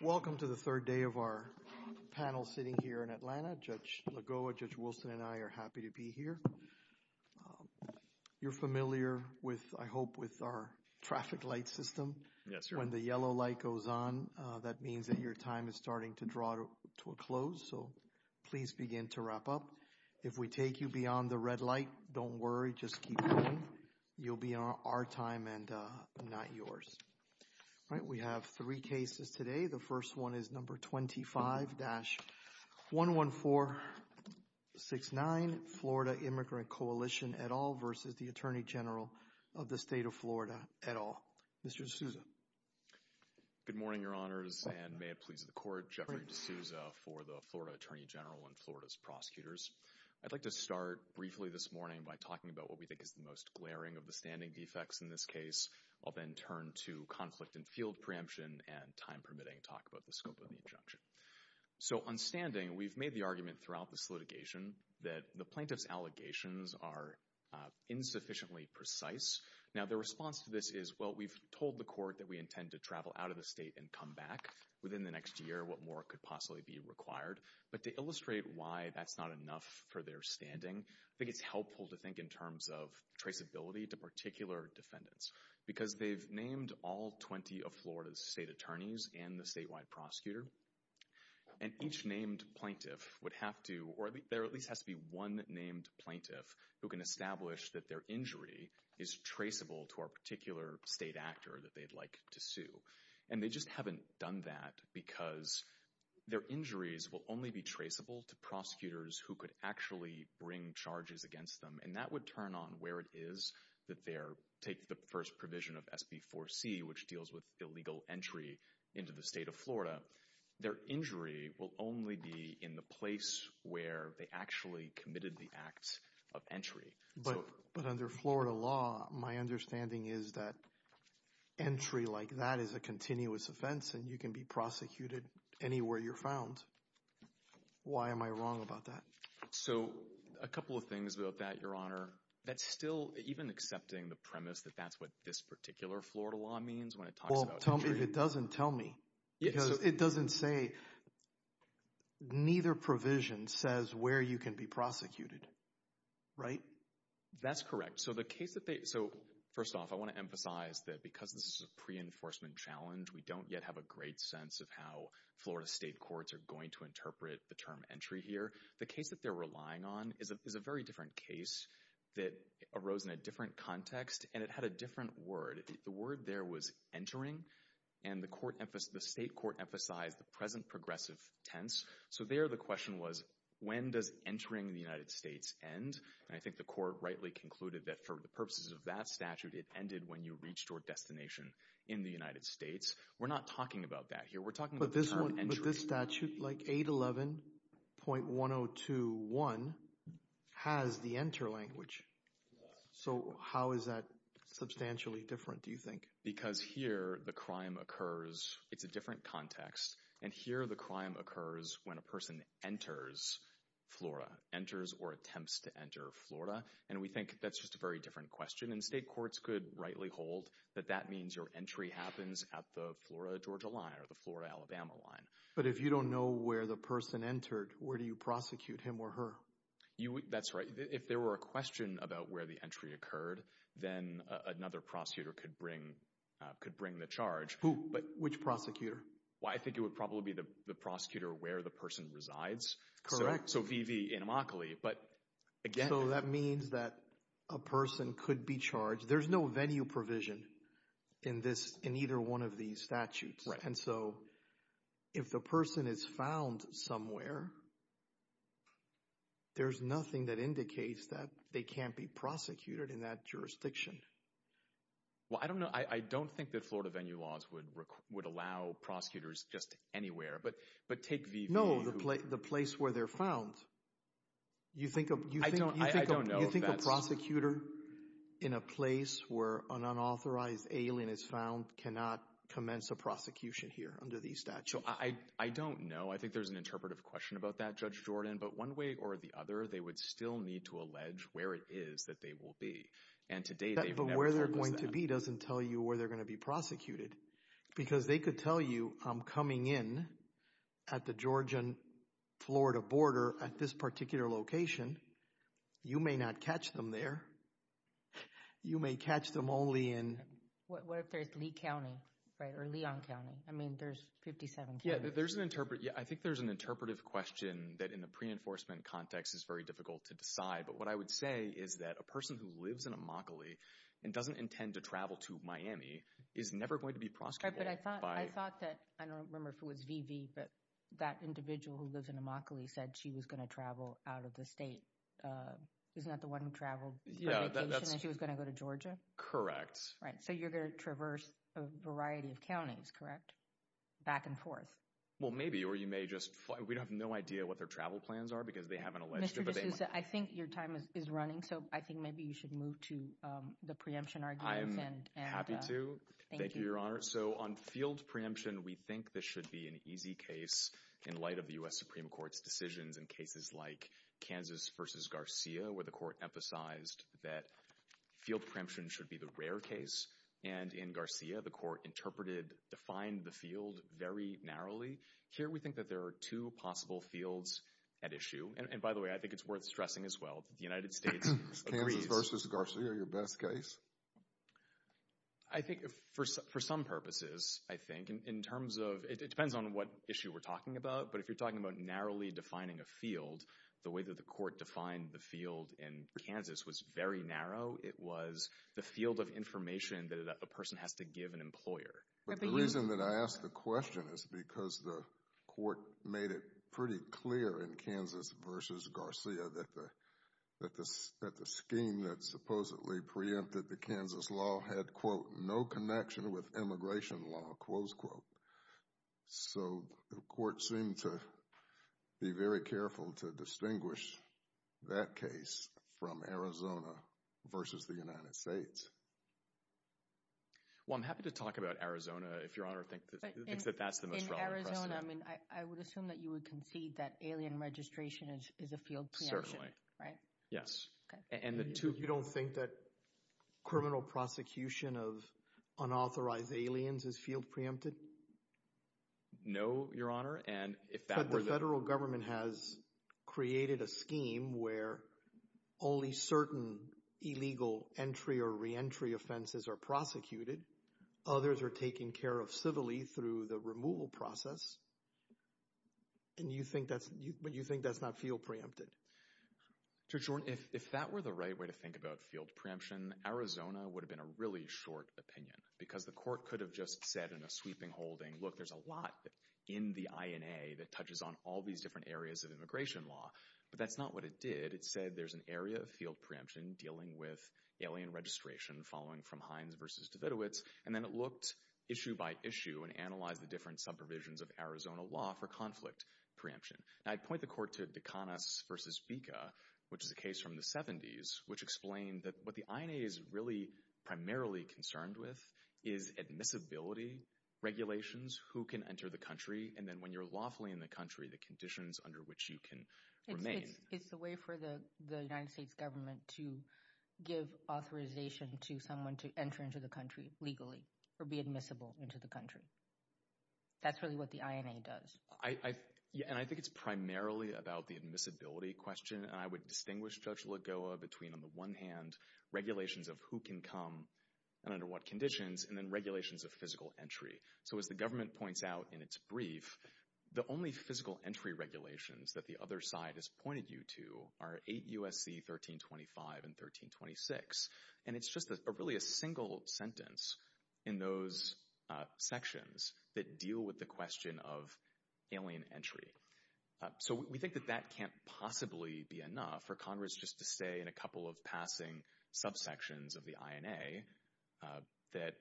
Welcome to the third day of our panel sitting here in Atlanta. Judge Lagoa, Judge Wilson and I are happy to be here. You're familiar with, I hope, with our traffic light system. Yes, sir. When the yellow light goes on, that means that your time is starting to draw to a close, so please begin to wrap up. If we take you beyond the red light, don't worry, just keep going. You'll be on our time and not yours. We have three cases today. The first one is number 25-11469, Florida Immigrant Coalition et al. v. Attorney General of the State of Florida et al., Mr. D'Souza. Good morning, Your Honors, and may it please the Court, Jeffrey D'Souza for the Florida Attorney General and Florida's prosecutors. I'd like to start briefly this morning by talking about what we think is the most glaring of the standing defects in this case. I'll then turn to conflict in field preemption and, time permitting, talk about the scope of the injunction. So on standing, we've made the argument throughout this litigation that the plaintiff's allegations are insufficiently precise. Now, the response to this is, well, we've told the court that we intend to travel out of the state and come back within the next year. What more could possibly be required? But to illustrate why that's not enough for their standing, I think it's helpful to think in terms of traceability to particular defendants, because they've named all 20 of Florida's state attorneys and the statewide prosecutor, and each named plaintiff would have to, or there at least has to be one named plaintiff who can establish that their injury is traceable to a particular state actor that they'd like to sue. And they just haven't done that because their injuries will only be traceable to prosecutors who could actually bring charges against them, and that would turn on where it is that they take the first provision of SB 4C, which deals with illegal entry into the state of Florida. Their injury will only be in the place where they actually committed the act of entry. But under Florida law, my understanding is that entry like that is a continuous offense, and you can be prosecuted anywhere you're found. Why am I wrong about that? So a couple of things about that, Your Honor. That's still, even accepting the premise that that's what this particular Florida law means when it talks about entry. Well, it doesn't tell me, because it doesn't say, neither provision says where you can be prosecuted, right? That's correct. So the case that they, so first off, I want to emphasize that because this is a pre-enforcement challenge, we don't yet have a great sense of how Florida state courts are going to interpret the term entry here. The case that they're relying on is a very different case that arose in a different context, and it had a different word. The word there was entering, and the court, the state court emphasized the present progressive tense. So there the question was, when does entering the United States end? And I think the court rightly concluded that for the purposes of that statute, it ended when you reached your destination in the United States. We're not talking about that here. We're talking about the term entry. But this statute, like 811.1021, has the enter language. So how is that substantially different, do you think? Because here, the crime occurs, it's a different context, and here the crime occurs when a person enters Florida, enters or attempts to enter Florida. And we think that's just a very different question, and state courts could rightly hold that that means your entry happens at the Florida-Georgia line or the Florida-Alabama line. But if you don't know where the person entered, where do you prosecute him or her? That's right. If there were a question about where the entry occurred, then another prosecutor could bring the charge. Who? Which prosecutor? Well, I think it would probably be the prosecutor where the person resides. So VV in Immokalee. So that means that a person could be charged. There's no venue provision in this, in either one of these statutes. And so if the person is found somewhere, there's nothing that indicates that they can't be prosecuted in that jurisdiction. Well, I don't know. I don't think that Florida venue laws would allow prosecutors just anywhere. But take VV. No, the place where they're found. You think a prosecutor in a place where an unauthorized alien is found cannot commence a prosecution here under these statutes? I don't know. I think there's an interpretive question about that, Judge Jordan. But one way or the other, they would still need to allege where it is that they will be. And to date, they've never told us that. But where they're going to be doesn't tell you where they're going to be prosecuted. Because they could tell you, I'm coming in at the Georgian-Florida border at this particular location. You may not catch them there. You may catch them only in... What if there's Lee County, right? Or Leon County? I mean, there's 57 counties. Yeah, there's an interpretive... I think there's an interpretive question that in the pre-enforcement context is very difficult to decide. But what I would say is that a person who lives in Immokalee and doesn't intend to travel to Miami is never going to be prosecuted by... Right, but I thought that... I don't remember if it was VV, but that individual who lives in Immokalee said she was going to travel out of the state. Isn't that the one who traveled for vacation and she was going to go to Georgia? Correct. Right. So you're going to traverse a variety of counties, correct? Back and forth? Well, maybe. Or you may just... We have no idea what their travel plans are because they have an alleged... So I think your time is running, so I think maybe you should move to the preemption arguments. I'm happy to. Thank you, Your Honor. So on field preemption, we think this should be an easy case in light of the U.S. Supreme Court's decisions in cases like Kansas versus Garcia where the court emphasized that field preemption should be the rare case. And in Garcia, the court interpreted, defined the field very narrowly. Here, we think that there are two possible fields at issue. And by the way, I think it's worth stressing as well that the United States agrees... Is Kansas versus Garcia your best case? I think for some purposes, I think, in terms of... It depends on what issue we're talking about, but if you're talking about narrowly defining a field, the way that the court defined the field in Kansas was very narrow. It was the field of information that a person has to give an employer. But the reason that I ask the question is because the court made it pretty clear in Kansas versus Garcia that the scheme that supposedly preempted the Kansas law had, quote, no connection with immigration law, close quote. So the court seemed to be very careful to distinguish that case from Arizona versus the United States. Well, I'm happy to talk about Arizona if Your Honor thinks that that's the most relevant precedent. In Arizona, I would assume that you would concede that alien registration is a field preemption. Right? Yes. And the two... You don't think that criminal prosecution of unauthorized aliens is field preempted? No, Your Honor. And if that were the... Some entry offenses are prosecuted. Others are taken care of civilly through the removal process. And you think that's... But you think that's not field preempted? Judge Jordan, if that were the right way to think about field preemption, Arizona would have been a really short opinion because the court could have just said in a sweeping holding, look, there's a lot in the INA that touches on all these different areas of immigration law. But that's not what it did. It said there's an area of field preemption dealing with alien registration following from Hines v. Davidovitz. And then it looked issue by issue and analyzed the different sub-provisions of Arizona law for conflict preemption. And I'd point the court to Dekanas v. Bika, which is a case from the 70s, which explained that what the INA is really primarily concerned with is admissibility, regulations, who can enter the country, and then when you're lawfully in the country, the conditions under which you can remain. It's the way for the United States government to give authorization to someone to enter into the country legally or be admissible into the country. That's really what the INA does. And I think it's primarily about the admissibility question. And I would distinguish, Judge Lagoa, between, on the one hand, regulations of who can come and under what conditions, and then regulations of physical entry. So as the government points out in its brief, the only physical entry regulations that the other side has pointed you to are 8 U.S.C. 1325 and 1326. And it's just really a single sentence in those sections that deal with the question of alien entry. So we think that that can't possibly be enough for Congress just to say in a couple of passing subsections of the INA that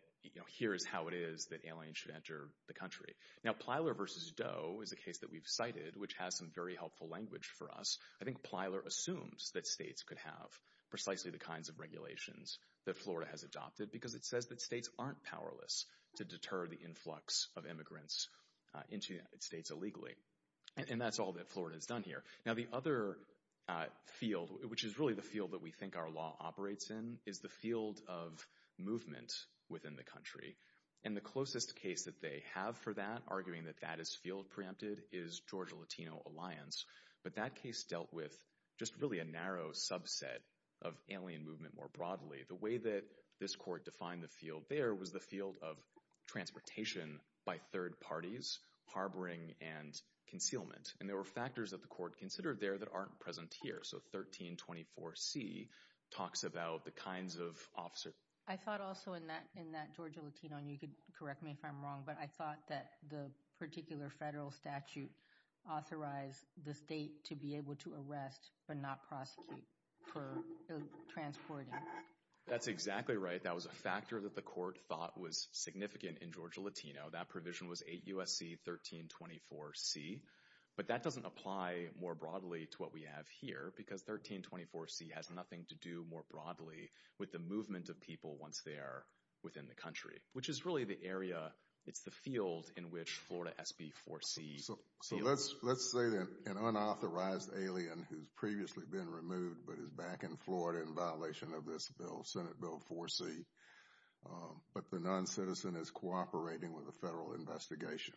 here is how it is that aliens should enter the country. Now, Plyler v. Doe is a case that we've cited, which has some very helpful language for us. I think Plyler assumes that states could have precisely the kinds of regulations that Florida has adopted because it says that states aren't powerless to deter the influx of immigrants into states illegally. And that's all that Florida has done here. Now, the other field, which is really the field that we think our law operates in, is the field of movement within the country. And the closest case that they have for that, arguing that that is field preempted, is Georgia Latino Alliance. But that case dealt with just really a narrow subset of alien movement more broadly. The way that this court defined the field there was the field of transportation by third parties, harboring and concealment. And there were factors that the court considered there that aren't present here. So 1324C talks about the kinds of officer... I thought also in that Georgia Latino, and you could correct me if I'm wrong, but I thought that the particular federal statute authorized the state to be able to arrest but not prosecute for transporting. That's exactly right. That was a factor that the court thought was significant in Georgia Latino. That provision was 8 U.S.C. 1324C. But that doesn't apply more broadly to what we have here, because 1324C has nothing to do more broadly with the movement of people once they are within the country, which is really the area, it's the field in which Florida SB 4C... So let's say that an unauthorized alien who's previously been removed but is back in Florida in violation of this bill, Senate Bill 4C, but the non-citizen is cooperating with a federal investigation.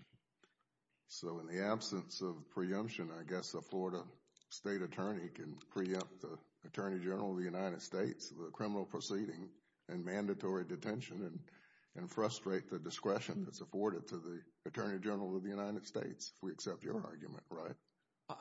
So in the absence of preemption, I guess a Florida state attorney can preempt the Attorney General of the United States of the criminal proceeding and mandatory detention and frustrate the discretion that's afforded to the Attorney General of the United States, if we accept your argument, right?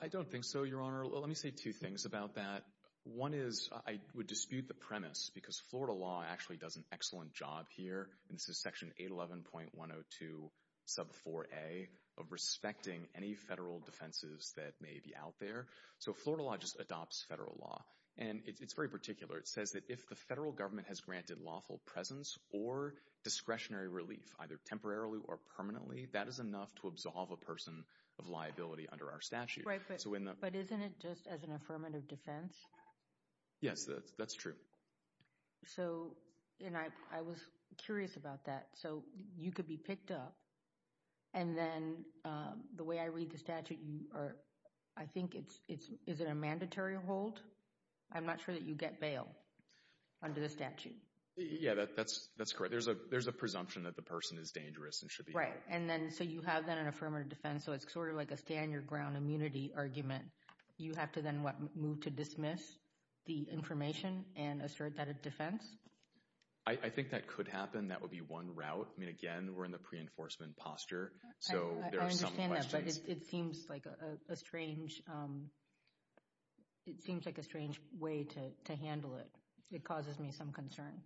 I don't think so, Your Honor. Let me say two things about that. One is I would dispute the premise, because Florida law actually does an excellent job here, and this is Section 811.102 sub 4A, of respecting any federal defenses that may be out there. So Florida law just adopts federal law. And it's very particular. It says that if the federal government has granted lawful presence or discretionary relief, either temporarily or permanently, that is enough to absolve a person of liability under our statute. Right, but isn't it just as an affirmative defense? Yes, that's true. So, and I was curious about that. So you could be picked up, and then the way I read the statute, you are, I think it's, is it a mandatory hold? I'm not sure that you get bail under the statute. Yeah, that's correct. There's a presumption that the person is dangerous and should be bailed. Right, and then, so you have then an affirmative defense, so it's sort of like a stand your ground move to dismiss the information and assert that a defense? I think that could happen. That would be one route. I mean, again, we're in the pre-enforcement posture, so there are some questions. I understand that, but it seems like a strange, it seems like a strange way to handle it. It causes me some concern.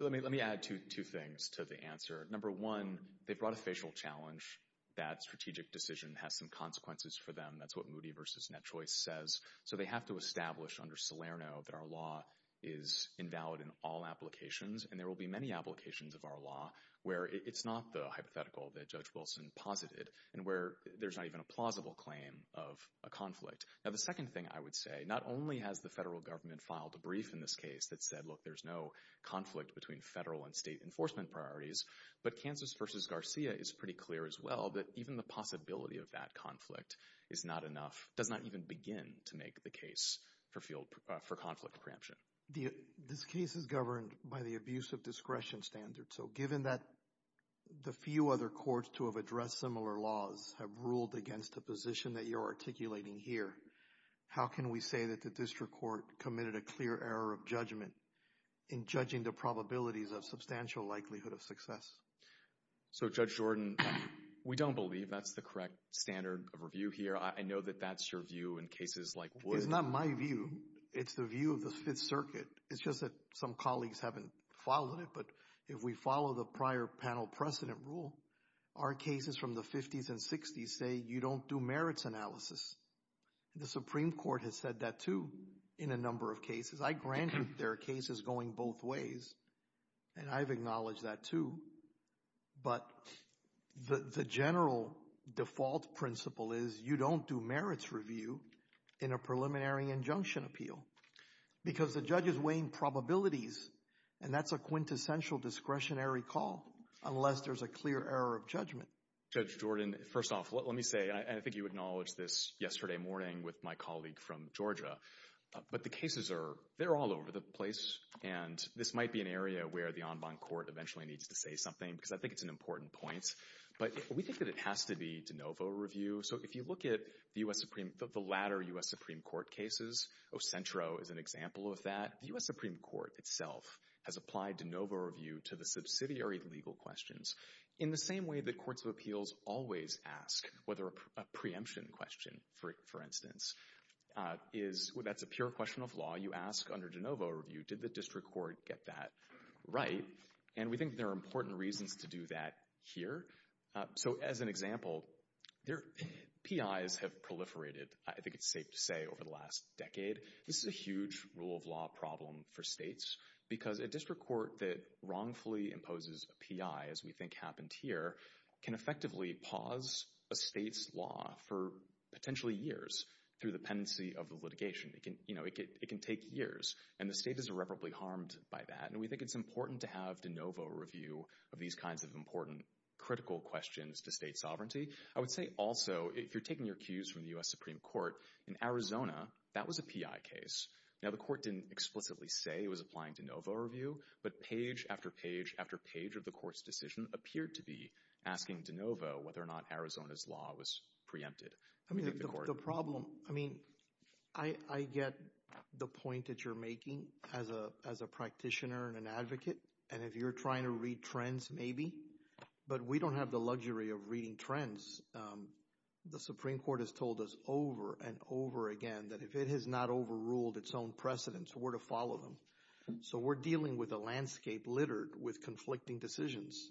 Well, let me add two things to the answer. Number one, they brought a facial challenge. That strategic decision has some consequences for them. That's what Moody v. Net Choice says. So they have to establish under Salerno that our law is invalid in all applications, and there will be many applications of our law where it's not the hypothetical that Judge Wilson posited, and where there's not even a plausible claim of a conflict. Now, the second thing I would say, not only has the federal government filed a brief in this case that said, look, there's no conflict between federal and state enforcement priorities, but Kansas v. Garcia is pretty clear as well that even the possibility of that conflict is not enough, does not even begin to make the case for conflict preemption. This case is governed by the abuse of discretion standard, so given that the few other courts to have addressed similar laws have ruled against the position that you're articulating here, how can we say that the district court committed a clear error of judgment in judging the probabilities of substantial likelihood of success? So, Judge Jordan, we don't believe that's the correct standard of review here. I know that that's your view in cases like Wood. It's not my view. It's the view of the Fifth Circuit. It's just that some colleagues haven't followed it, but if we follow the prior panel precedent rule, our cases from the 50s and 60s say you don't do merits analysis. The Supreme Court has said that, too, in a number of cases. I grant you there are cases going both ways, and I've acknowledged that, too, but the general default principle is you don't do merits review in a preliminary injunction appeal because the judge is weighing probabilities, and that's a quintessential discretionary call unless there's a clear error of judgment. Judge Jordan, first off, let me say, and I think you acknowledged this yesterday morning with my colleague from Georgia, but the cases are, they're all over the place, and this might be an area where the en banc court eventually needs to say something because I think it's an important point, but we think that it has to be de novo review. So, if you look at the U.S. Supreme, the latter U.S. Supreme Court cases, Ocentro is an example of that. The U.S. Supreme Court itself has applied de novo review to the subsidiary legal questions in the same way that courts of appeals always ask whether a preemption question, for instance, is, that's a pure question of law. You ask under de novo review, did the district court get that right? And we think there are important reasons to do that here. So, as an example, PIs have proliferated, I think it's safe to say, over the last decade. This is a huge rule of law problem for states because a district court that wrongfully imposes a PI, as we think happened here, can effectively pause a state's law for potentially years through the pendency of the litigation. It can take years, and the state is irreparably harmed by that, and we think it's important to have de novo review of these kinds of important critical questions to state sovereignty. I would say also, if you're taking your cues from the U.S. Supreme Court, in Arizona, that was a PI case. Now, the court didn't explicitly say it was applying de novo review, but page after page after page of the court's decision appeared to be asking de novo whether or not Arizona's law was preempted. I mean, the problem, I mean, I get the point that you're making as a practitioner and an advocate, and if you're trying to read trends, maybe, but we don't have the luxury of reading trends. The Supreme Court has told us over and over again that if it has not overruled its own precedents, we're to follow them. So, we're dealing with a landscape littered with conflicting decisions,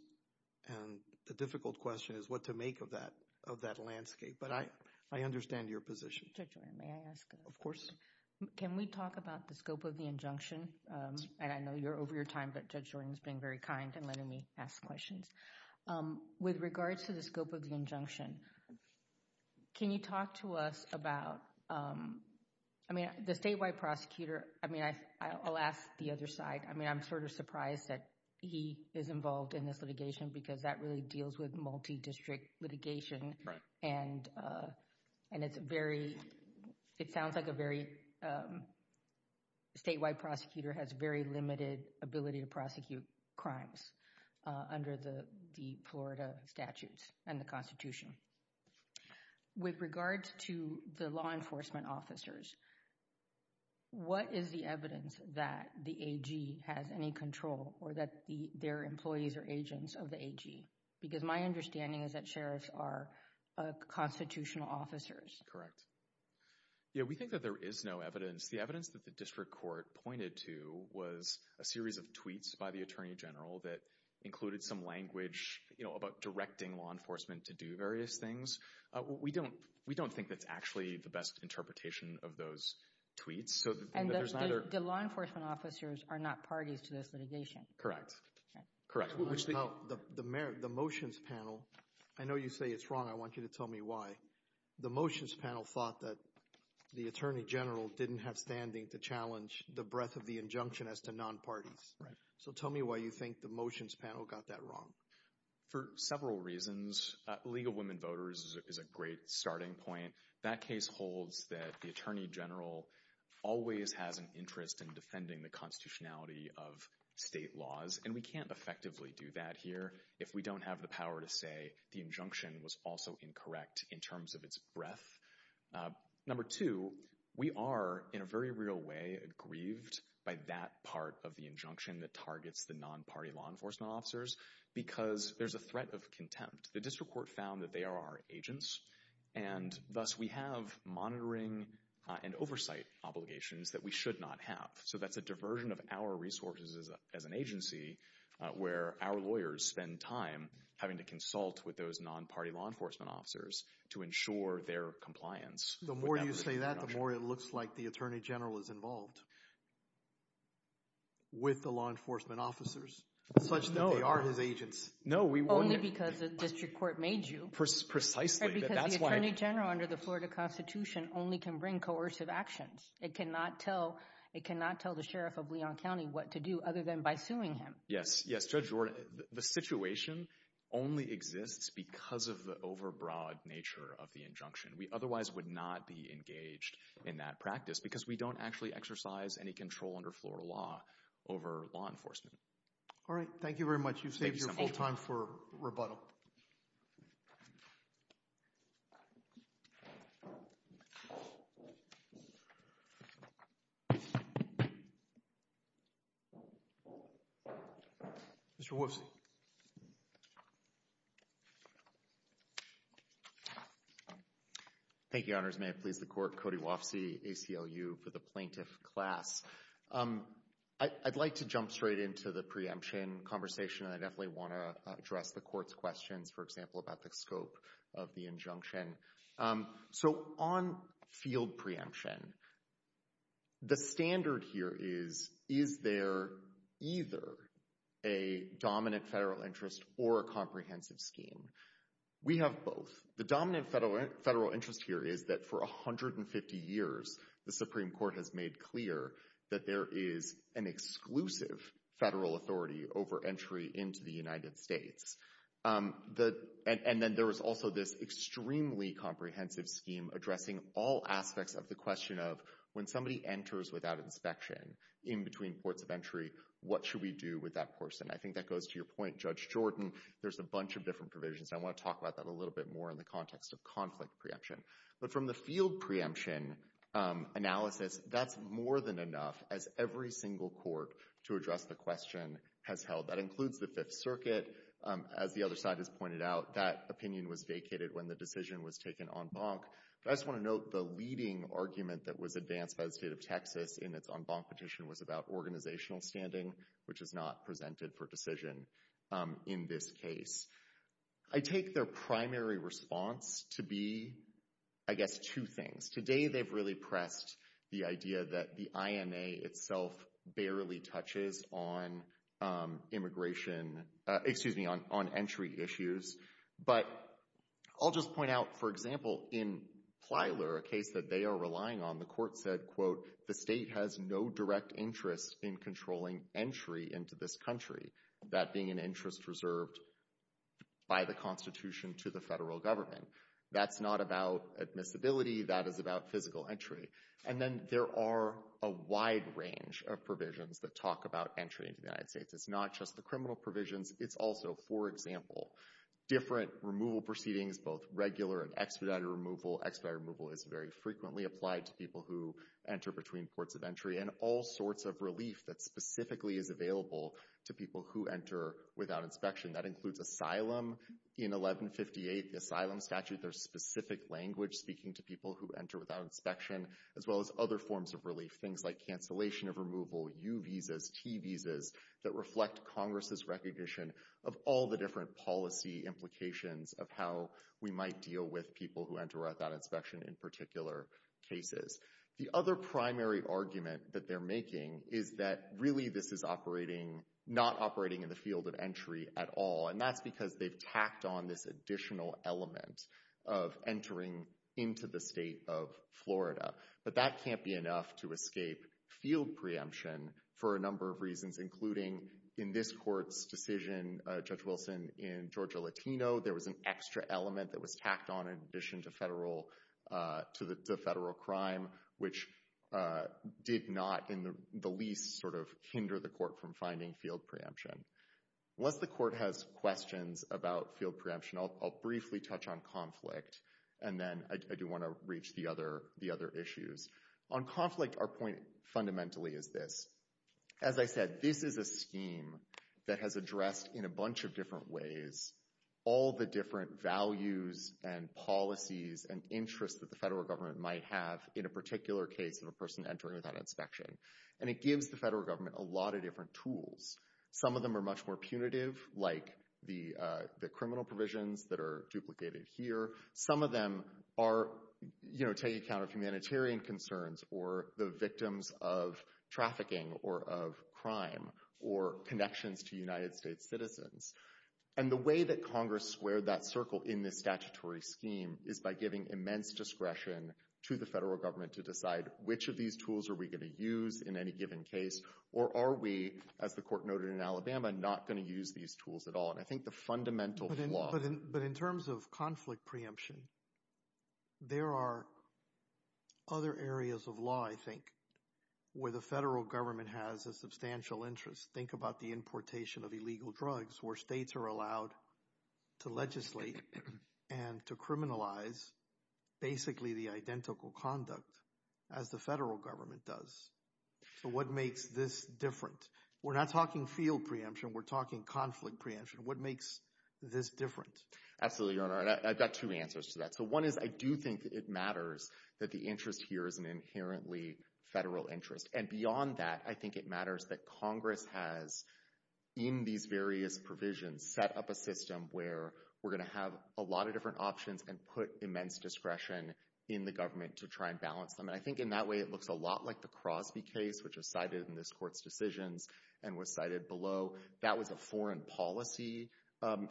and the difficult question is what to make of that landscape, but I understand your position. Judge Jordan, may I ask a question? Of course. Can we talk about the scope of the injunction? And I know you're over your time, but Judge Jordan's being very kind and letting me ask questions. With regards to the scope of the injunction, can you talk to us about, I mean, the statewide prosecutor, I mean, I'll ask the other side. I mean, I'm sort of surprised that he is involved in this litigation because that really deals with multi-district litigation, and it's very, it sounds like a very, statewide prosecutor has very limited ability to prosecute crimes under the Florida statutes and the Constitution. With regards to the law enforcement officers, what is the evidence that the AG has any control or that their employees are agents of the AG? Because my understanding is that sheriffs are constitutional officers. Correct. Yeah, we think that there is no evidence. The evidence that the district court pointed to was a series of tweets by the Attorney General that included some language, you know, about directing law enforcement to do various things. We don't think that's actually the best interpretation of those tweets. And the law enforcement officers are not parties to this litigation. Correct. The motions panel, I know you say it's wrong. I want you to tell me why. The motions panel thought that the Attorney General didn't have standing to challenge the breadth of the injunction as to non-parties. So tell me why you think the motions panel got that wrong. For several reasons. League of Women Voters is a great starting point. That case holds that the Attorney General always has an interest in defending the constitutionality of state laws, and we can't effectively do that here if we don't have the power to say the injunction was also incorrect in terms of its breadth. Number two, we are, in a very real way, aggrieved by that part of the injunction that targets the non-party law enforcement officers because there's a threat of contempt. The district court found that they are our agents, and thus we have monitoring and oversight obligations that we should not have. So that's a diversion of our resources as an agency where our lawyers spend time having to consult with those non-party law enforcement officers to ensure their compliance. The more you say that, the more it looks like the Attorney General is involved with the law enforcement officers, such that they are his agents. No, only because the district court made you. Precisely. Because the Attorney General, under the Florida Constitution, only can bring coercive actions. It cannot tell the Sheriff of Leon County what to do other than by suing him. Yes, yes, Judge Jordan. The situation only exists because of the over-broad nature of the injunction. We otherwise would not be engaged in that practice because we don't actually exercise any control under Florida law over law enforcement. All right. Thank you very much. You've saved your full time for rebuttal. Mr. Wolfson. Thank you, Your Honors. May it please the Court. Cody Wolfson, ACLU, for the Plaintiff class. I'd like to jump straight into the preemption conversation, and I definitely want to address the Court's questions, for example, about the scope of the injunction. So on field preemption, the standard here is, is there either a dominant federal interest or a comprehensive scheme? We have both. The dominant federal interest here is that for 150 years, the Supreme Court has made clear that there is an exclusive federal authority over entry into the United States. And then there is also this extremely comprehensive scheme addressing all aspects of the question of, when somebody enters without inspection in between ports of entry, what should we do with that person? I think that goes to your point, Judge Jordan, there's a bunch of different provisions, and I want to talk about that a little bit more in the context of conflict preemption. But from the field preemption analysis, that's more than enough, as every single court to address the question has held. That includes the Fifth Circuit. As the other side has pointed out, that opinion was vacated when the decision was taken en banc. But I just want to note the leading argument that was advanced by the State of Texas in its en banc petition was about organizational standing, which is not presented for decision in this case. I take their primary response to be, I guess, two things. Today, they've really pressed the idea that the IMA itself barely touches on immigration, excuse me, on entry issues. But I'll just point out, for example, in Plyler, a case that they are relying on, the court said, quote, the state has no direct interest in controlling entry into this country, that being an interest reserved by the Constitution to the federal government. That's not about admissibility, that is about physical entry. And then there are a wide range of provisions that talk about entry into the United States. It's not just the criminal provisions, it's also, for example, different removal proceedings, both regular and expedited removal. Expedited people who enter between ports of entry and all sorts of relief that specifically is available to people who enter without inspection. That includes asylum. In 1158, the asylum statute, there's specific language speaking to people who enter without inspection, as well as other forms of relief. Things like cancellation of removal, U visas, T visas, that reflect Congress's recognition of all the different policy implications of how we might deal with people who enter without inspection in particular cases. The other primary argument that they're making is that really this is not operating in the field of entry at all, and that's because they've tacked on this additional element of entering into the state of Florida. But that can't be enough to escape field preemption for a number of reasons, including in this court's decision, Judge Wilson, in Georgia Latino, there was an extra element that was tacked on in addition to federal crime, which did not in the least sort of hinder the court from finding field preemption. Unless the court has questions about field preemption, I'll briefly touch on conflict, and then I do want to reach the other issues. On conflict, our point fundamentally is this. As I said, this is a scheme that has addressed in a bunch of different ways all the different values and policies and interests that the federal government might have in a particular case of a person entering without inspection. And it gives the federal government a lot of different tools. Some of them are much more punitive, like the criminal provisions that are duplicated here. Some of them take account of humanitarian concerns or the victims of trafficking or of crime or connections to United States citizens. And the way that Congress squared that circle in this statutory scheme is by giving immense discretion to the federal government to decide which of these tools are we going to use in any given case, or are we, as the court noted in Alabama, not going to use these tools at all. And I think the fundamental flaw— But in terms of conflict preemption, there are other areas of law, I think, where the states are allowed to legislate and to criminalize basically the identical conduct as the federal government does. So what makes this different? We're not talking field preemption. We're talking conflict preemption. What makes this different? Absolutely, Your Honor. I've got two answers to that. So one is I do think that it matters that the interest here is an inherently federal interest. And beyond that, I think it matters that Congress has, in these various provisions, set up a system where we're going to have a lot of different options and put immense discretion in the government to try and balance them. And I think in that way, it looks a lot like the Crosby case, which was cited in this court's decisions and was cited below. That was a foreign policy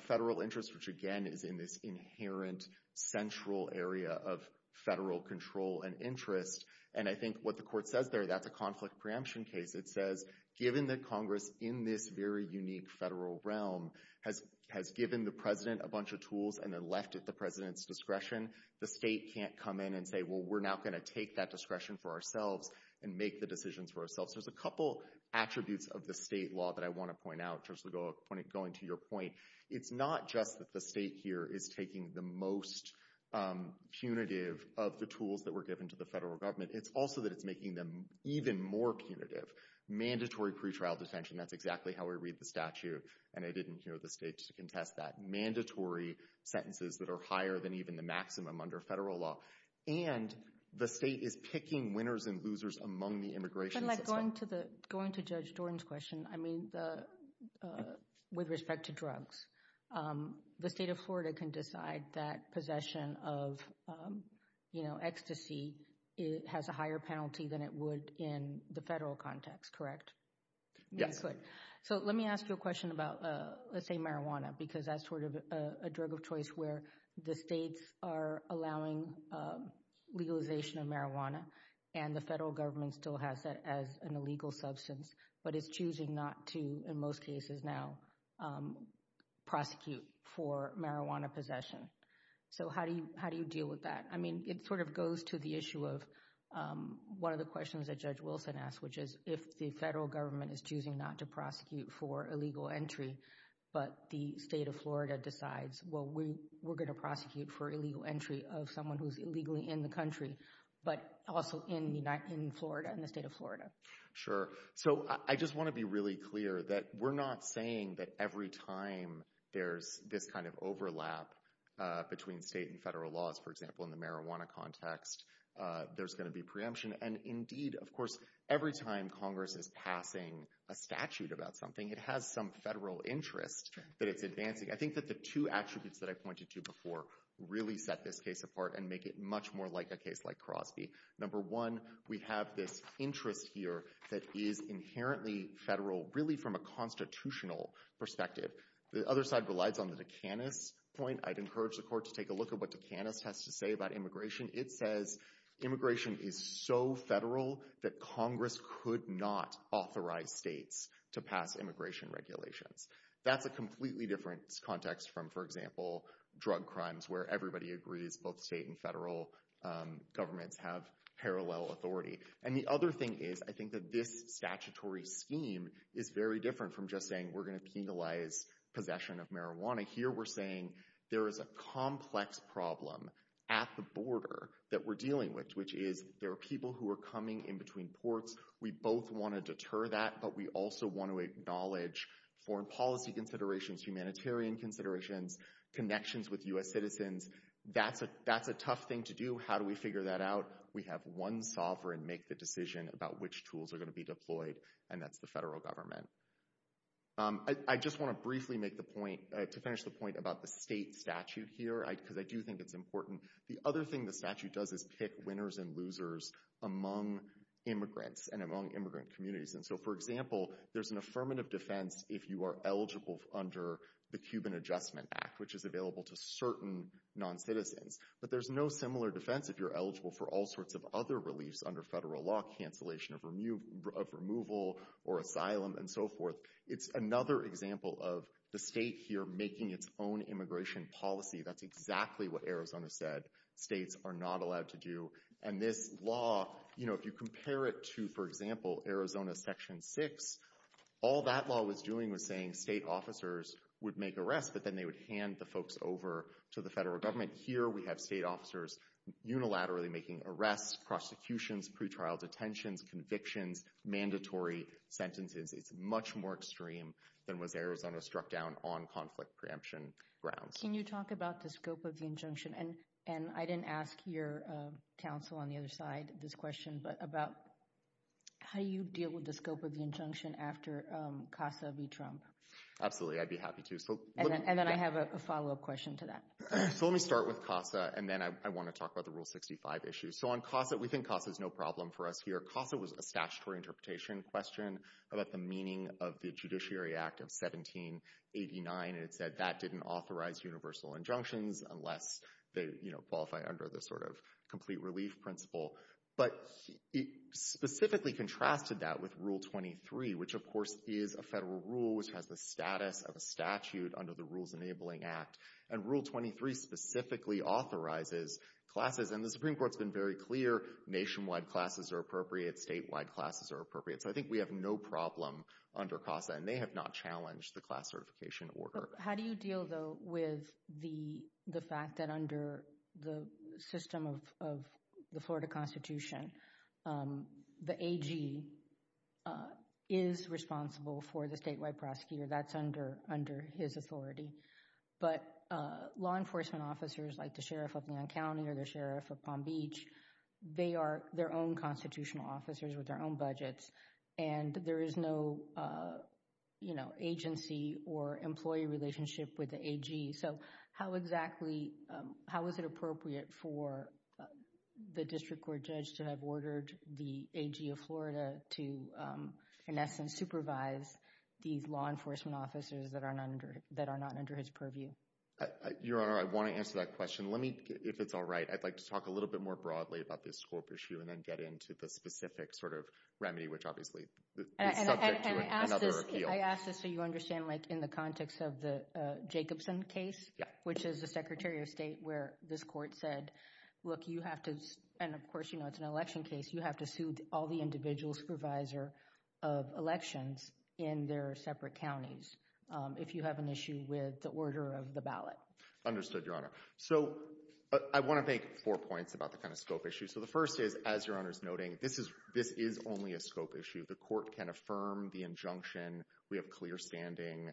federal interest, which, again, is in this inherent central area of federal control and interest. And I think what the court says there, that's a conflict preemption case. It says, given that Congress, in this very unique federal realm, has given the president a bunch of tools and then left it at the president's discretion, the state can't come in and say, well, we're now going to take that discretion for ourselves and make the decisions for ourselves. There's a couple attributes of the state law that I want to point out, just going to your point. It's not just that the state here is taking the most punitive of the tools that were given to the federal government. It's also that it's making them even more punitive. Mandatory pretrial detention, that's exactly how we read the statute, and I didn't hear the state to contest that. Mandatory sentences that are higher than even the maximum under federal law. And the state is picking winners and losers among the immigration system. Going to Judge Jordan's question, I mean, with respect to drugs, the state of Florida can decide that possession of ecstasy has a higher penalty than it would in the federal context, correct? Yes. So let me ask you a question about, let's say marijuana, because that's sort of a drug of choice where the states are allowing legalization of marijuana and the federal government still has that as an illegal substance, but it's choosing not to, in most cases now, prosecute for marijuana possession. So how do you deal with that? I mean, it sort of goes to the issue of one of the questions that Judge Wilson asked, which is if the federal government is choosing not to prosecute for illegal entry, but the state of Florida decides, well, we're going to prosecute for illegal entry of someone who's illegally in the country, but also in Florida, in the state of Florida. Sure. So I just want to be really clear that we're not saying that every time there's this kind of overlap between state and federal laws, for example, in the marijuana context, there's going to be preemption. And indeed, of course, every time Congress is passing a statute about something, it has some federal interest that it's advancing. I think that the two attributes that I pointed to before really set this case apart and make it much more like a case like Crosby. Number one, we have this interest here that is inherently federal, really from a constitutional perspective. The other side relies on the Duqanis point. I'd encourage the court to take a look at what Duqanis has to say about immigration. It says immigration is so federal that Congress could not authorize states to pass immigration regulations. That's a completely different context from, for example, drug crimes, where everybody agrees both state and federal governments have parallel authority. And the other thing is, I think that this statutory scheme is very different from just saying we're going to penalize possession of marijuana. Here we're saying there is a complex problem at the border that we're dealing with, which is there are people who are coming in between ports. We both want to deter that, but we also want to acknowledge foreign policy considerations, humanitarian considerations, connections with U.S. citizens. That's a tough thing to do. How do we figure that out? We have one sovereign make the decision about which tools are going to be deployed, and that's the federal government. I just want to briefly make the point, to finish the point about the state statute here, because I do think it's important. The other thing the statute does is pick winners and losers among immigrants and among immigrant communities. And so, for example, there's an affirmative defense if you are eligible under the Cuban Adjustment Act, which is available to certain noncitizens. But there's no similar defense if you're eligible for all sorts of other reliefs under federal law, cancellation of removal or asylum and so forth. It's another example of the state here making its own immigration policy. That's exactly what Arizona said states are not allowed to do. And this law, you know, if you compare it to, for example, Arizona Section 6, all that law was doing was saying state officers would make arrests, but then they would hand the folks over to the federal government. Here we have state officers unilaterally making arrests, prosecutions, pretrial detentions, convictions, mandatory sentences. It's much more extreme than was Arizona struck down on conflict preemption grounds. Can you talk about the scope of the injunction? And I didn't ask your counsel on the other side this question, but about how you deal with the scope of the injunction after CASA v. Trump. Absolutely, I'd be happy to. And then I have a follow-up question to that. So let me start with CASA, and then I want to talk about the Rule 65 issue. So on CASA, we think CASA is no problem for us here. CASA was a statutory interpretation question about the meaning of the Judiciary Act of 1789, and it said that didn't authorize universal injunctions unless they, you know, qualify under the sort of complete relief principle. But it specifically contrasted that with Rule 23, which of course is a federal rule, which has the status of a statute under the Rules Enabling Act. And Rule 23 specifically authorizes classes, and the Supreme Court's been very clear, nationwide classes are appropriate, statewide classes are appropriate. So I think we have no problem under CASA, and they have not challenged the class certification order. How do you deal, though, with the fact that under the system of the Florida Constitution, the AG is responsible for the statewide prosecutor, that's under his authority, but law enforcement officers like the Sheriff of Leon County or the Sheriff of Palm Beach, they are their own constitutional officers with their own budgets, and there is no, you know, agency or employee relationship with the AG. So how exactly, how is it appropriate for the District Court judge to have ordered the AG of Florida to, in essence, supervise these law enforcement officers that are not under his purview? Your Honor, I want to answer that question. Let me, if it's all right, I'd like to talk a little bit more broadly about this scope issue and then get into the specific sort of remedy, which obviously is subject to another appeal. I ask this so you understand, like, in the context of the Jacobson case, which is the Secretary of State, where this court said, look, you have to, and of course, you know, it's an election case, you have to sue all the individuals supervisor of elections in their separate counties if you have an issue with the order of the ballot. Understood, Your Honor. So I want to make four points about the kind of scope issue. So the first is, as Your Honor is noting, this is only a scope issue. The court can affirm the injunction. We have clear standing.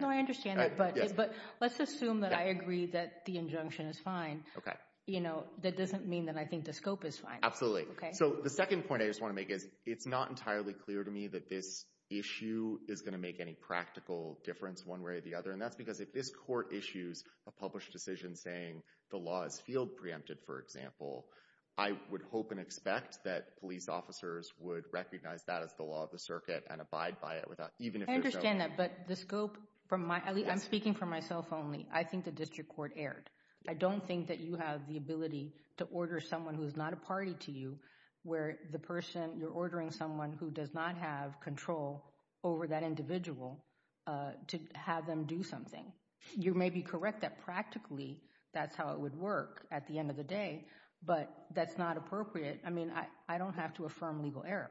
No, I understand that, but let's assume that I agree that the injunction is fine. Okay. You know, that doesn't mean that I think the scope is fine. Absolutely. So the second point I just want to make is, it's not entirely clear to me that this issue is going to make any practical difference one way or the other, and that's because if this court issues a published decision saying the law is field preempted, for example, I would hope and expect that police officers would recognize that as the law of the circuit and abide by it even if there's no— I understand that, but the scope from my—I'm speaking for myself only. I think the district court erred. I don't think that you have the ability to order someone who's not a party to you where the person—you're ordering someone who does not have control over that individual to have them do something. You may be correct that practically that's how it would work at the end of the day, but that's not appropriate. I mean, I don't have to affirm legal error.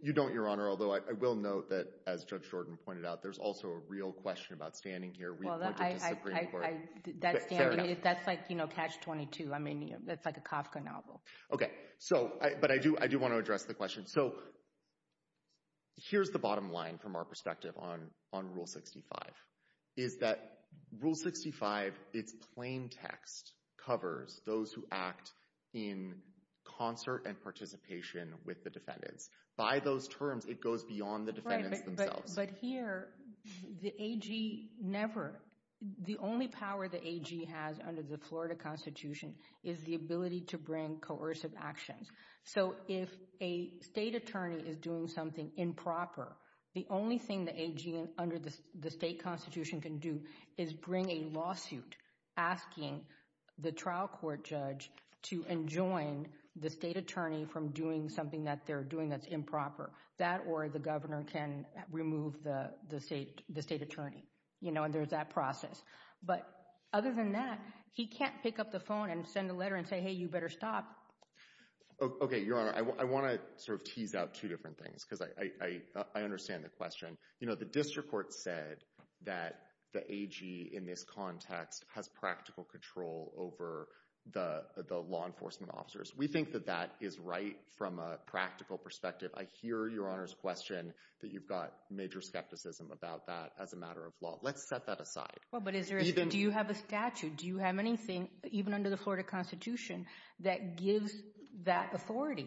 You don't, Your Honor, although I will note that, as Judge Jordan pointed out, there's also a real question about standing here— Well, that standing, that's like Catch-22. I mean, that's like a Kafka novel. Okay. But I do want to address the question. So here's the bottom line from our perspective on Rule 65, is that Rule 65, its plain text covers those who act in concert and participation with the defendants. By those terms, it goes beyond the defendants themselves. Right, but here, the AG never—the only power the AG has under the Florida Constitution is the ability to bring coercive actions. So if a state attorney is doing something improper, the only thing the AG under the state Constitution can do is bring a lawsuit asking the trial court judge to enjoin the state attorney from doing something that they're doing that's improper. That or the governor can remove the state attorney, you know, and there's that process. But other than that, he can't pick up the phone and send a letter and say, hey, you better stop. Okay, Your Honor, I want to sort of tease out two different things because I understand the question. You know, the district court said that the AG in this context has practical control over the law enforcement officers. We think that that is right from a practical perspective. I hear Your Honor's question that you've got major skepticism about that as a matter of law. Let's set that aside. Well, but do you have a statute? Do you have anything, even under the Florida Constitution, that gives that authority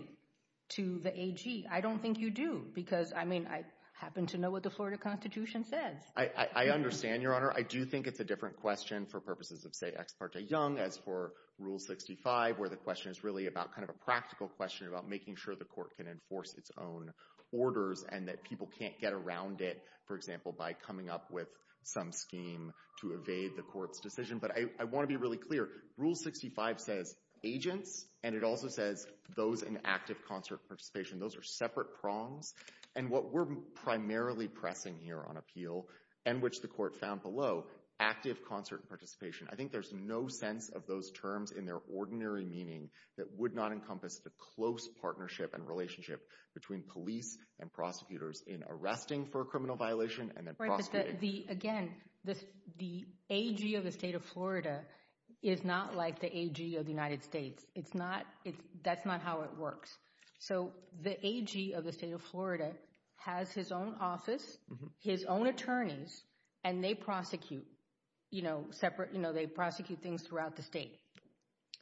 to the AG? I don't think you do because, I mean, I happen to know what the Florida Constitution says. I understand, Your Honor. I do think it's a different question for purposes of, say, Ex parte Young as for Rule 65 where the question is really about kind of a practical question about making sure the court can enforce its own orders and that people can't get around it, for example, by coming up with some scheme to evade the court's decision. But I want to be really clear. Rule 65 says agents and it also says those in active concert participation. Those are separate prongs. And what we're primarily pressing here on appeal and which the court found below, active concert participation, I think there's no sense of those terms in their ordinary meaning that would not encompass the close partnership and relationship between police and prosecutors in arresting for a criminal violation and then prosecuting. Again, the AG of the state of Florida is not like the AG of the United States. That's not how it works. So the AG of the state of Florida has his own office, his own attorneys, and they prosecute things throughout the state.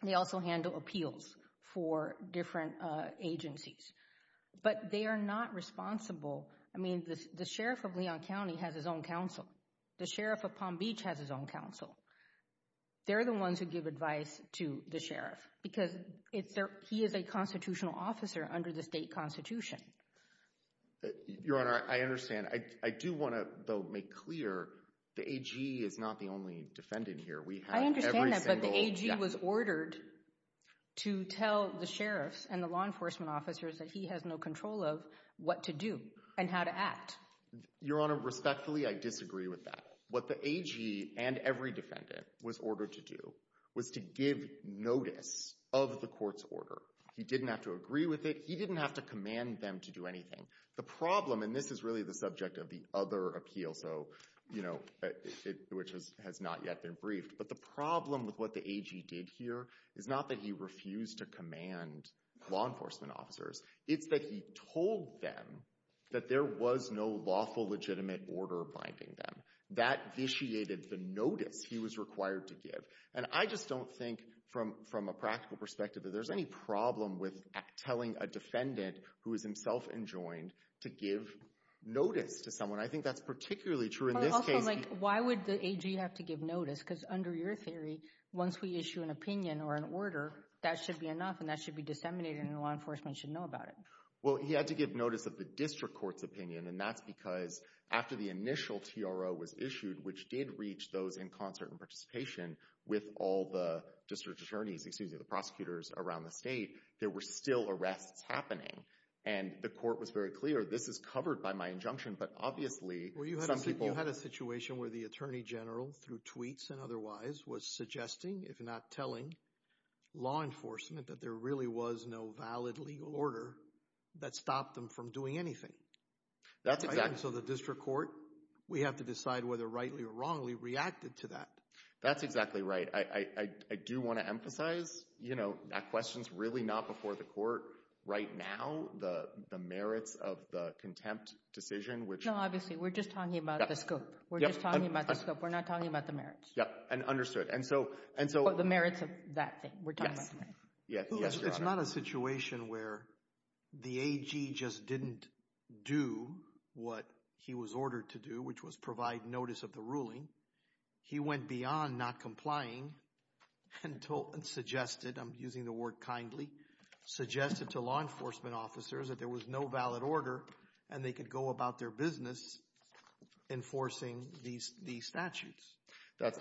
They also handle appeals for different agencies. But they are not responsible. I mean, the sheriff of Leon County has his own counsel. The sheriff of Palm Beach has his own counsel. They're the ones who give advice to the sheriff because he is a constitutional officer under the state constitution. Your Honor, I understand. I do want to make clear the AG is not the only defendant here. I understand that, but the AG was ordered to tell the sheriffs and the law enforcement officers that he has no control of what to do and how to act. Your Honor, respectfully, I disagree with that. What the AG and every defendant was ordered to do was to give notice of the court's order. He didn't have to agree with it. He didn't have to command them to do anything. The problem, and this is really the subject of the other appeal, which has not yet been briefed, but the problem with what the AG did here is not that he refused to command law enforcement officers. It's that he told them that there was no lawful, legitimate order binding them. That vitiated the notice he was required to give. And I just don't think, from a practical perspective, that there's any problem with telling a defendant who is himself enjoined to give notice to someone. I think that's particularly true in this case. But also, like, why would the AG have to give notice? Because under your theory, once we issue an opinion or an order, that should be enough and that should be disseminated and law enforcement should know about it. Well, he had to give notice of the district court's opinion, and that's because after the initial TRO was issued, which did reach those in concert and participation with all the district attorneys, excuse me, the prosecutors around the state, there were still arrests happening. And the court was very clear, this is covered by my injunction, but obviously some people... Well, you had a situation where the Attorney General, through tweets and otherwise, was suggesting, if not telling, law enforcement that there really was no valid legal order that stopped them from doing anything. That's exactly... And so the district court, we have to decide whether rightly or wrongly reacted to that. That's exactly right. I do want to emphasize, you know, that question's really not before the court right now, the merits of the contempt decision, which... No, obviously, we're just talking about the scope. We're just talking about the scope. We're not talking about the merits. Yeah, and understood. And so... But the merits of that thing, we're talking about the merits. Yes, yes, you're right. It's not a situation where the AG just didn't do what he was ordered to do, which was provide notice of the ruling. He went beyond not complying and suggested, I'm using the word kindly, suggested to law enforcement officers that there was no valid order and they could go about their business enforcing these statutes. That's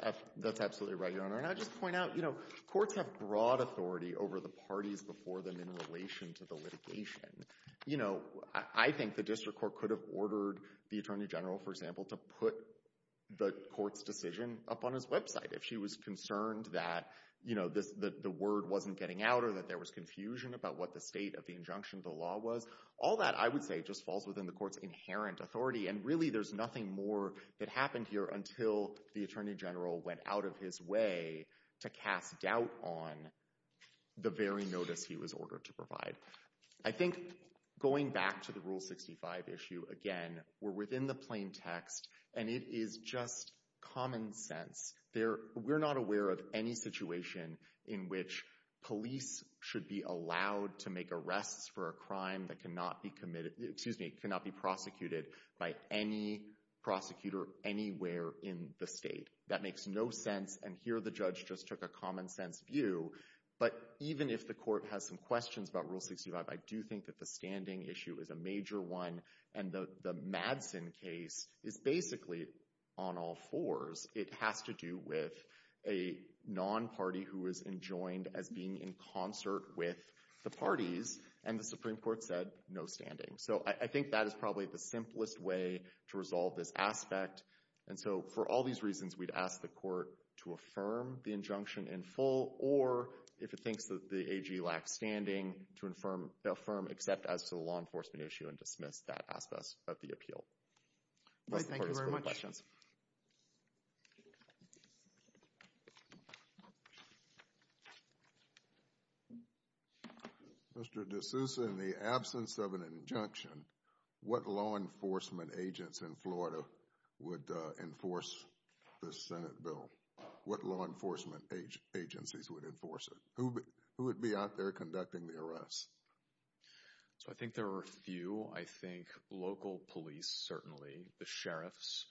absolutely right, Your Honor. And I'll just point out, you know, courts have broad authority over the parties before them in relation to the litigation. You know, I think the district court could have ordered the Attorney General, for example, to put the court's decision up on his website if she was concerned that, you know, the word wasn't getting out or that there was confusion about what the state of the And really there's nothing more that happened here until the Attorney General went out of his way to cast doubt on the very notice he was ordered to provide. I think going back to the Rule 65 issue again, we're within the plain text and it is just common sense. We're not aware of any situation in which police should be allowed to make by any prosecutor anywhere in the state. That makes no sense. And here the judge just took a common sense view. But even if the court has some questions about Rule 65, I do think that the standing issue is a major one. And the Madsen case is basically on all fours. It has to do with a non-party who is enjoined as being in concert with the parties. And the Supreme Court said no standing. So I think that is probably the simplest way to resolve this aspect. And so for all these reasons, we'd ask the court to affirm the injunction in full or if it thinks that the AG lacks standing, to affirm except as to the law enforcement issue and dismiss that aspect of the appeal. Thank you very much. Any questions? Mr. DeSouza, in the absence of an injunction, what law enforcement agents in Florida would enforce the Senate bill? What law enforcement agencies would enforce it? Who would be out there conducting the arrests? So I think there are a few. I think local police, certainly. The sheriffs.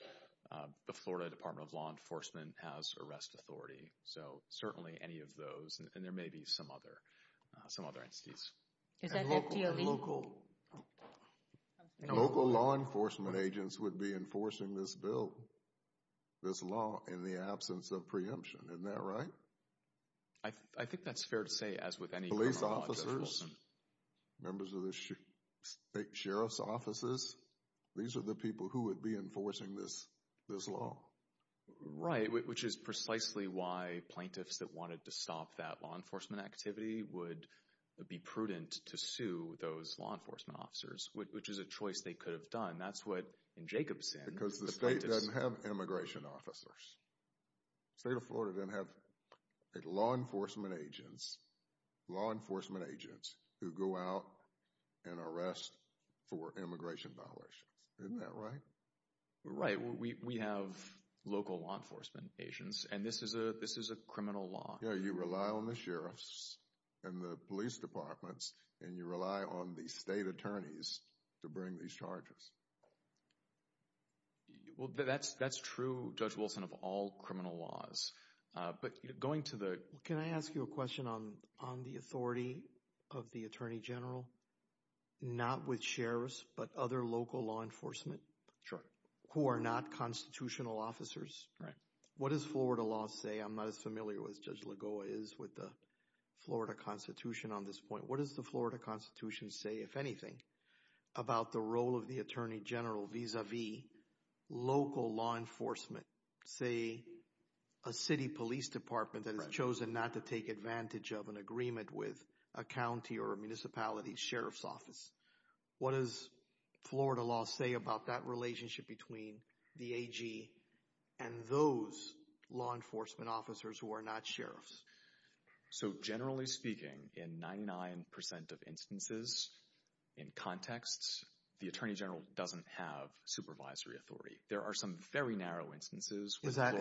The Florida Department of Law Enforcement has arrest authority. So certainly any of those. And there may be some other entities. And local law enforcement agents would be enforcing this bill, this law, in the absence of preemption. Isn't that right? I think that's fair to say, as with any law enforcement. Police officers, members of the state sheriff's offices, these are the people who would be enforcing this law. Right, which is precisely why plaintiffs that wanted to stop that law enforcement activity would be prudent to sue those law enforcement officers, which is a choice they could have done. That's what, in Jacobson, the plaintiffs... Because the state doesn't have immigration officers. The state of Florida doesn't have law enforcement agents. Law enforcement agents who go out and arrest for immigration violations. Isn't that right? Right. We have local law enforcement agents. And this is a criminal law. Yeah, you rely on the sheriffs and the police departments, and you rely on the state attorneys to bring these charges. Well, that's true, Judge Wilson, of all criminal laws. But going to the... Can I ask you a question on the authority of the attorney general? Not with sheriffs, but other local law enforcement? Sure. Who are not constitutional officers? Right. What does Florida law say? I'm not as familiar as Judge Lagoa is with the Florida Constitution on this point. But what does the Florida Constitution say, if anything, about the role of the attorney general vis-à-vis local law enforcement? Say, a city police department that has chosen not to take advantage of an agreement with a county or a municipality sheriff's office. What does Florida law say about that relationship between the AG and those law enforcement officers who are not sheriffs? So, generally speaking, in 99% of instances, in context, the attorney general doesn't have supervisory authority. There are some very narrow instances. Is that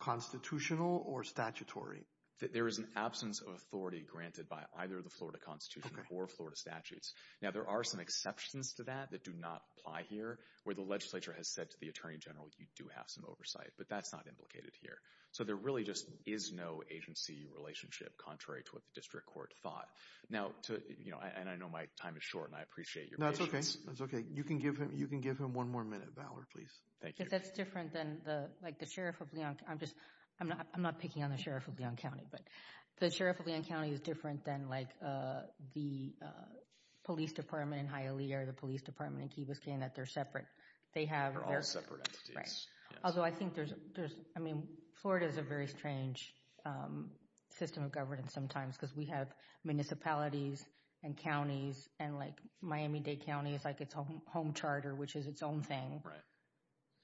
constitutional or statutory? There is an absence of authority granted by either the Florida Constitution or Florida statutes. Now, there are some exceptions to that that do not apply here, where the legislature has said to the attorney general, you do have some oversight. But that's not implicated here. So there really just is no agency relationship, contrary to what the district court thought. Now, I know my time is short, and I appreciate your patience. That's okay. You can give him one more minute, Valor, please. That's different than the sheriff of Leon. I'm not picking on the sheriff of Leon County, but the sheriff of Leon County is different than the police department in Hialeah or the police department in Key Biscayne, that they're separate. They're all separate entities. Although I think there's, I mean, Florida has a very strange system of governance sometimes because we have municipalities and counties, and like Miami-Dade County is like its own home charter, which is its own thing.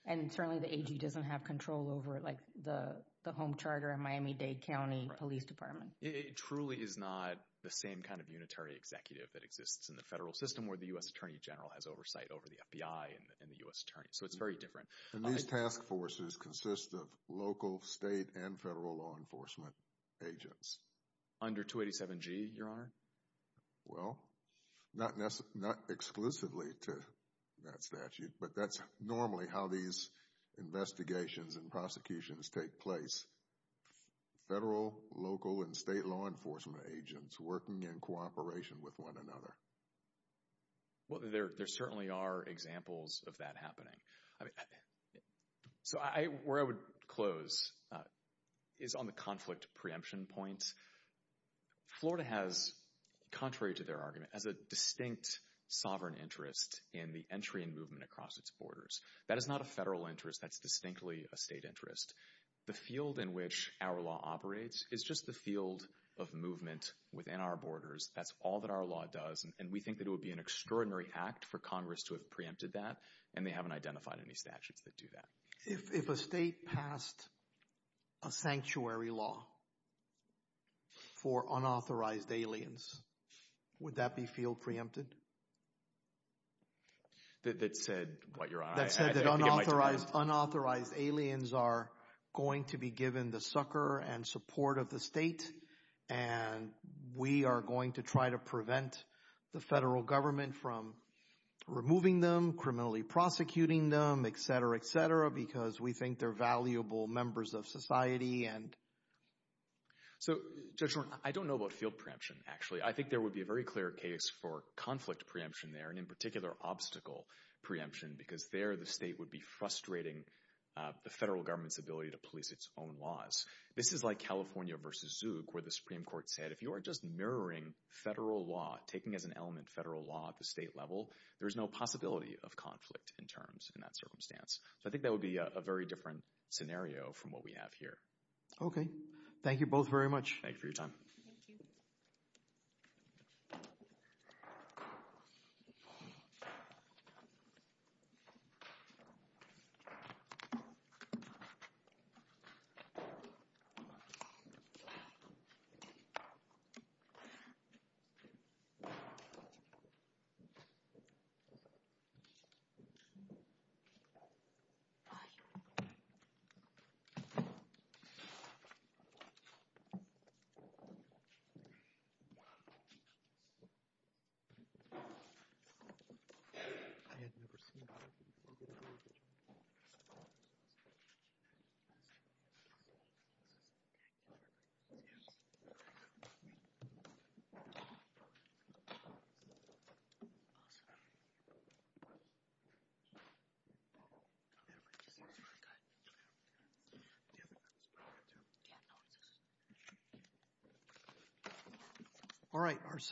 And certainly the AG doesn't have control over, like, the home charter in Miami-Dade County Police Department. It truly is not the same kind of unitary executive that exists in the federal system where the U.S. Attorney General has oversight over the FBI and the U.S. Attorney. So it's very different. And these task forces consist of local, state, and federal law enforcement agents. Under 287G, Your Honor? Well, not exclusively to that statute, but that's normally how these investigations and prosecutions take place. Federal, local, and state law enforcement agents working in cooperation with one another. Well, there certainly are examples of that happening. So where I would close is on the conflict preemption point. Florida has, contrary to their argument, has a distinct sovereign interest in the entry and movement across its borders. That is not a federal interest. That's distinctly a state interest. The field in which our law operates is just the field of movement within our borders. That's all that our law does, and we think that it would be an extraordinary act for Congress to have preempted that, and they haven't identified any statutes that do that. If a state passed a sanctuary law for unauthorized aliens, would that be field preempted? That said what, Your Honor? That said that unauthorized aliens are going to be given the sucker and support of the state, and we are going to try to prevent the federal government from removing them, criminally prosecuting them, et cetera, et cetera, because we think they're valuable members of society. So, Judge Norton, I don't know about field preemption, actually. I think there would be a very clear case for conflict preemption there, and in particular obstacle preemption, because there the state would be frustrating the federal government's ability to police its own laws. This is like California versus Zouk, where the Supreme Court said, if you are just mirroring federal law, taking as an element federal law at the state level, there is no possibility of conflict in terms in that circumstance. So, I think that would be a very different scenario from what we have here. Okay. Thank you both very much. Thank you for your time. Thank you. Thank you. Thank you. Awesome. All right.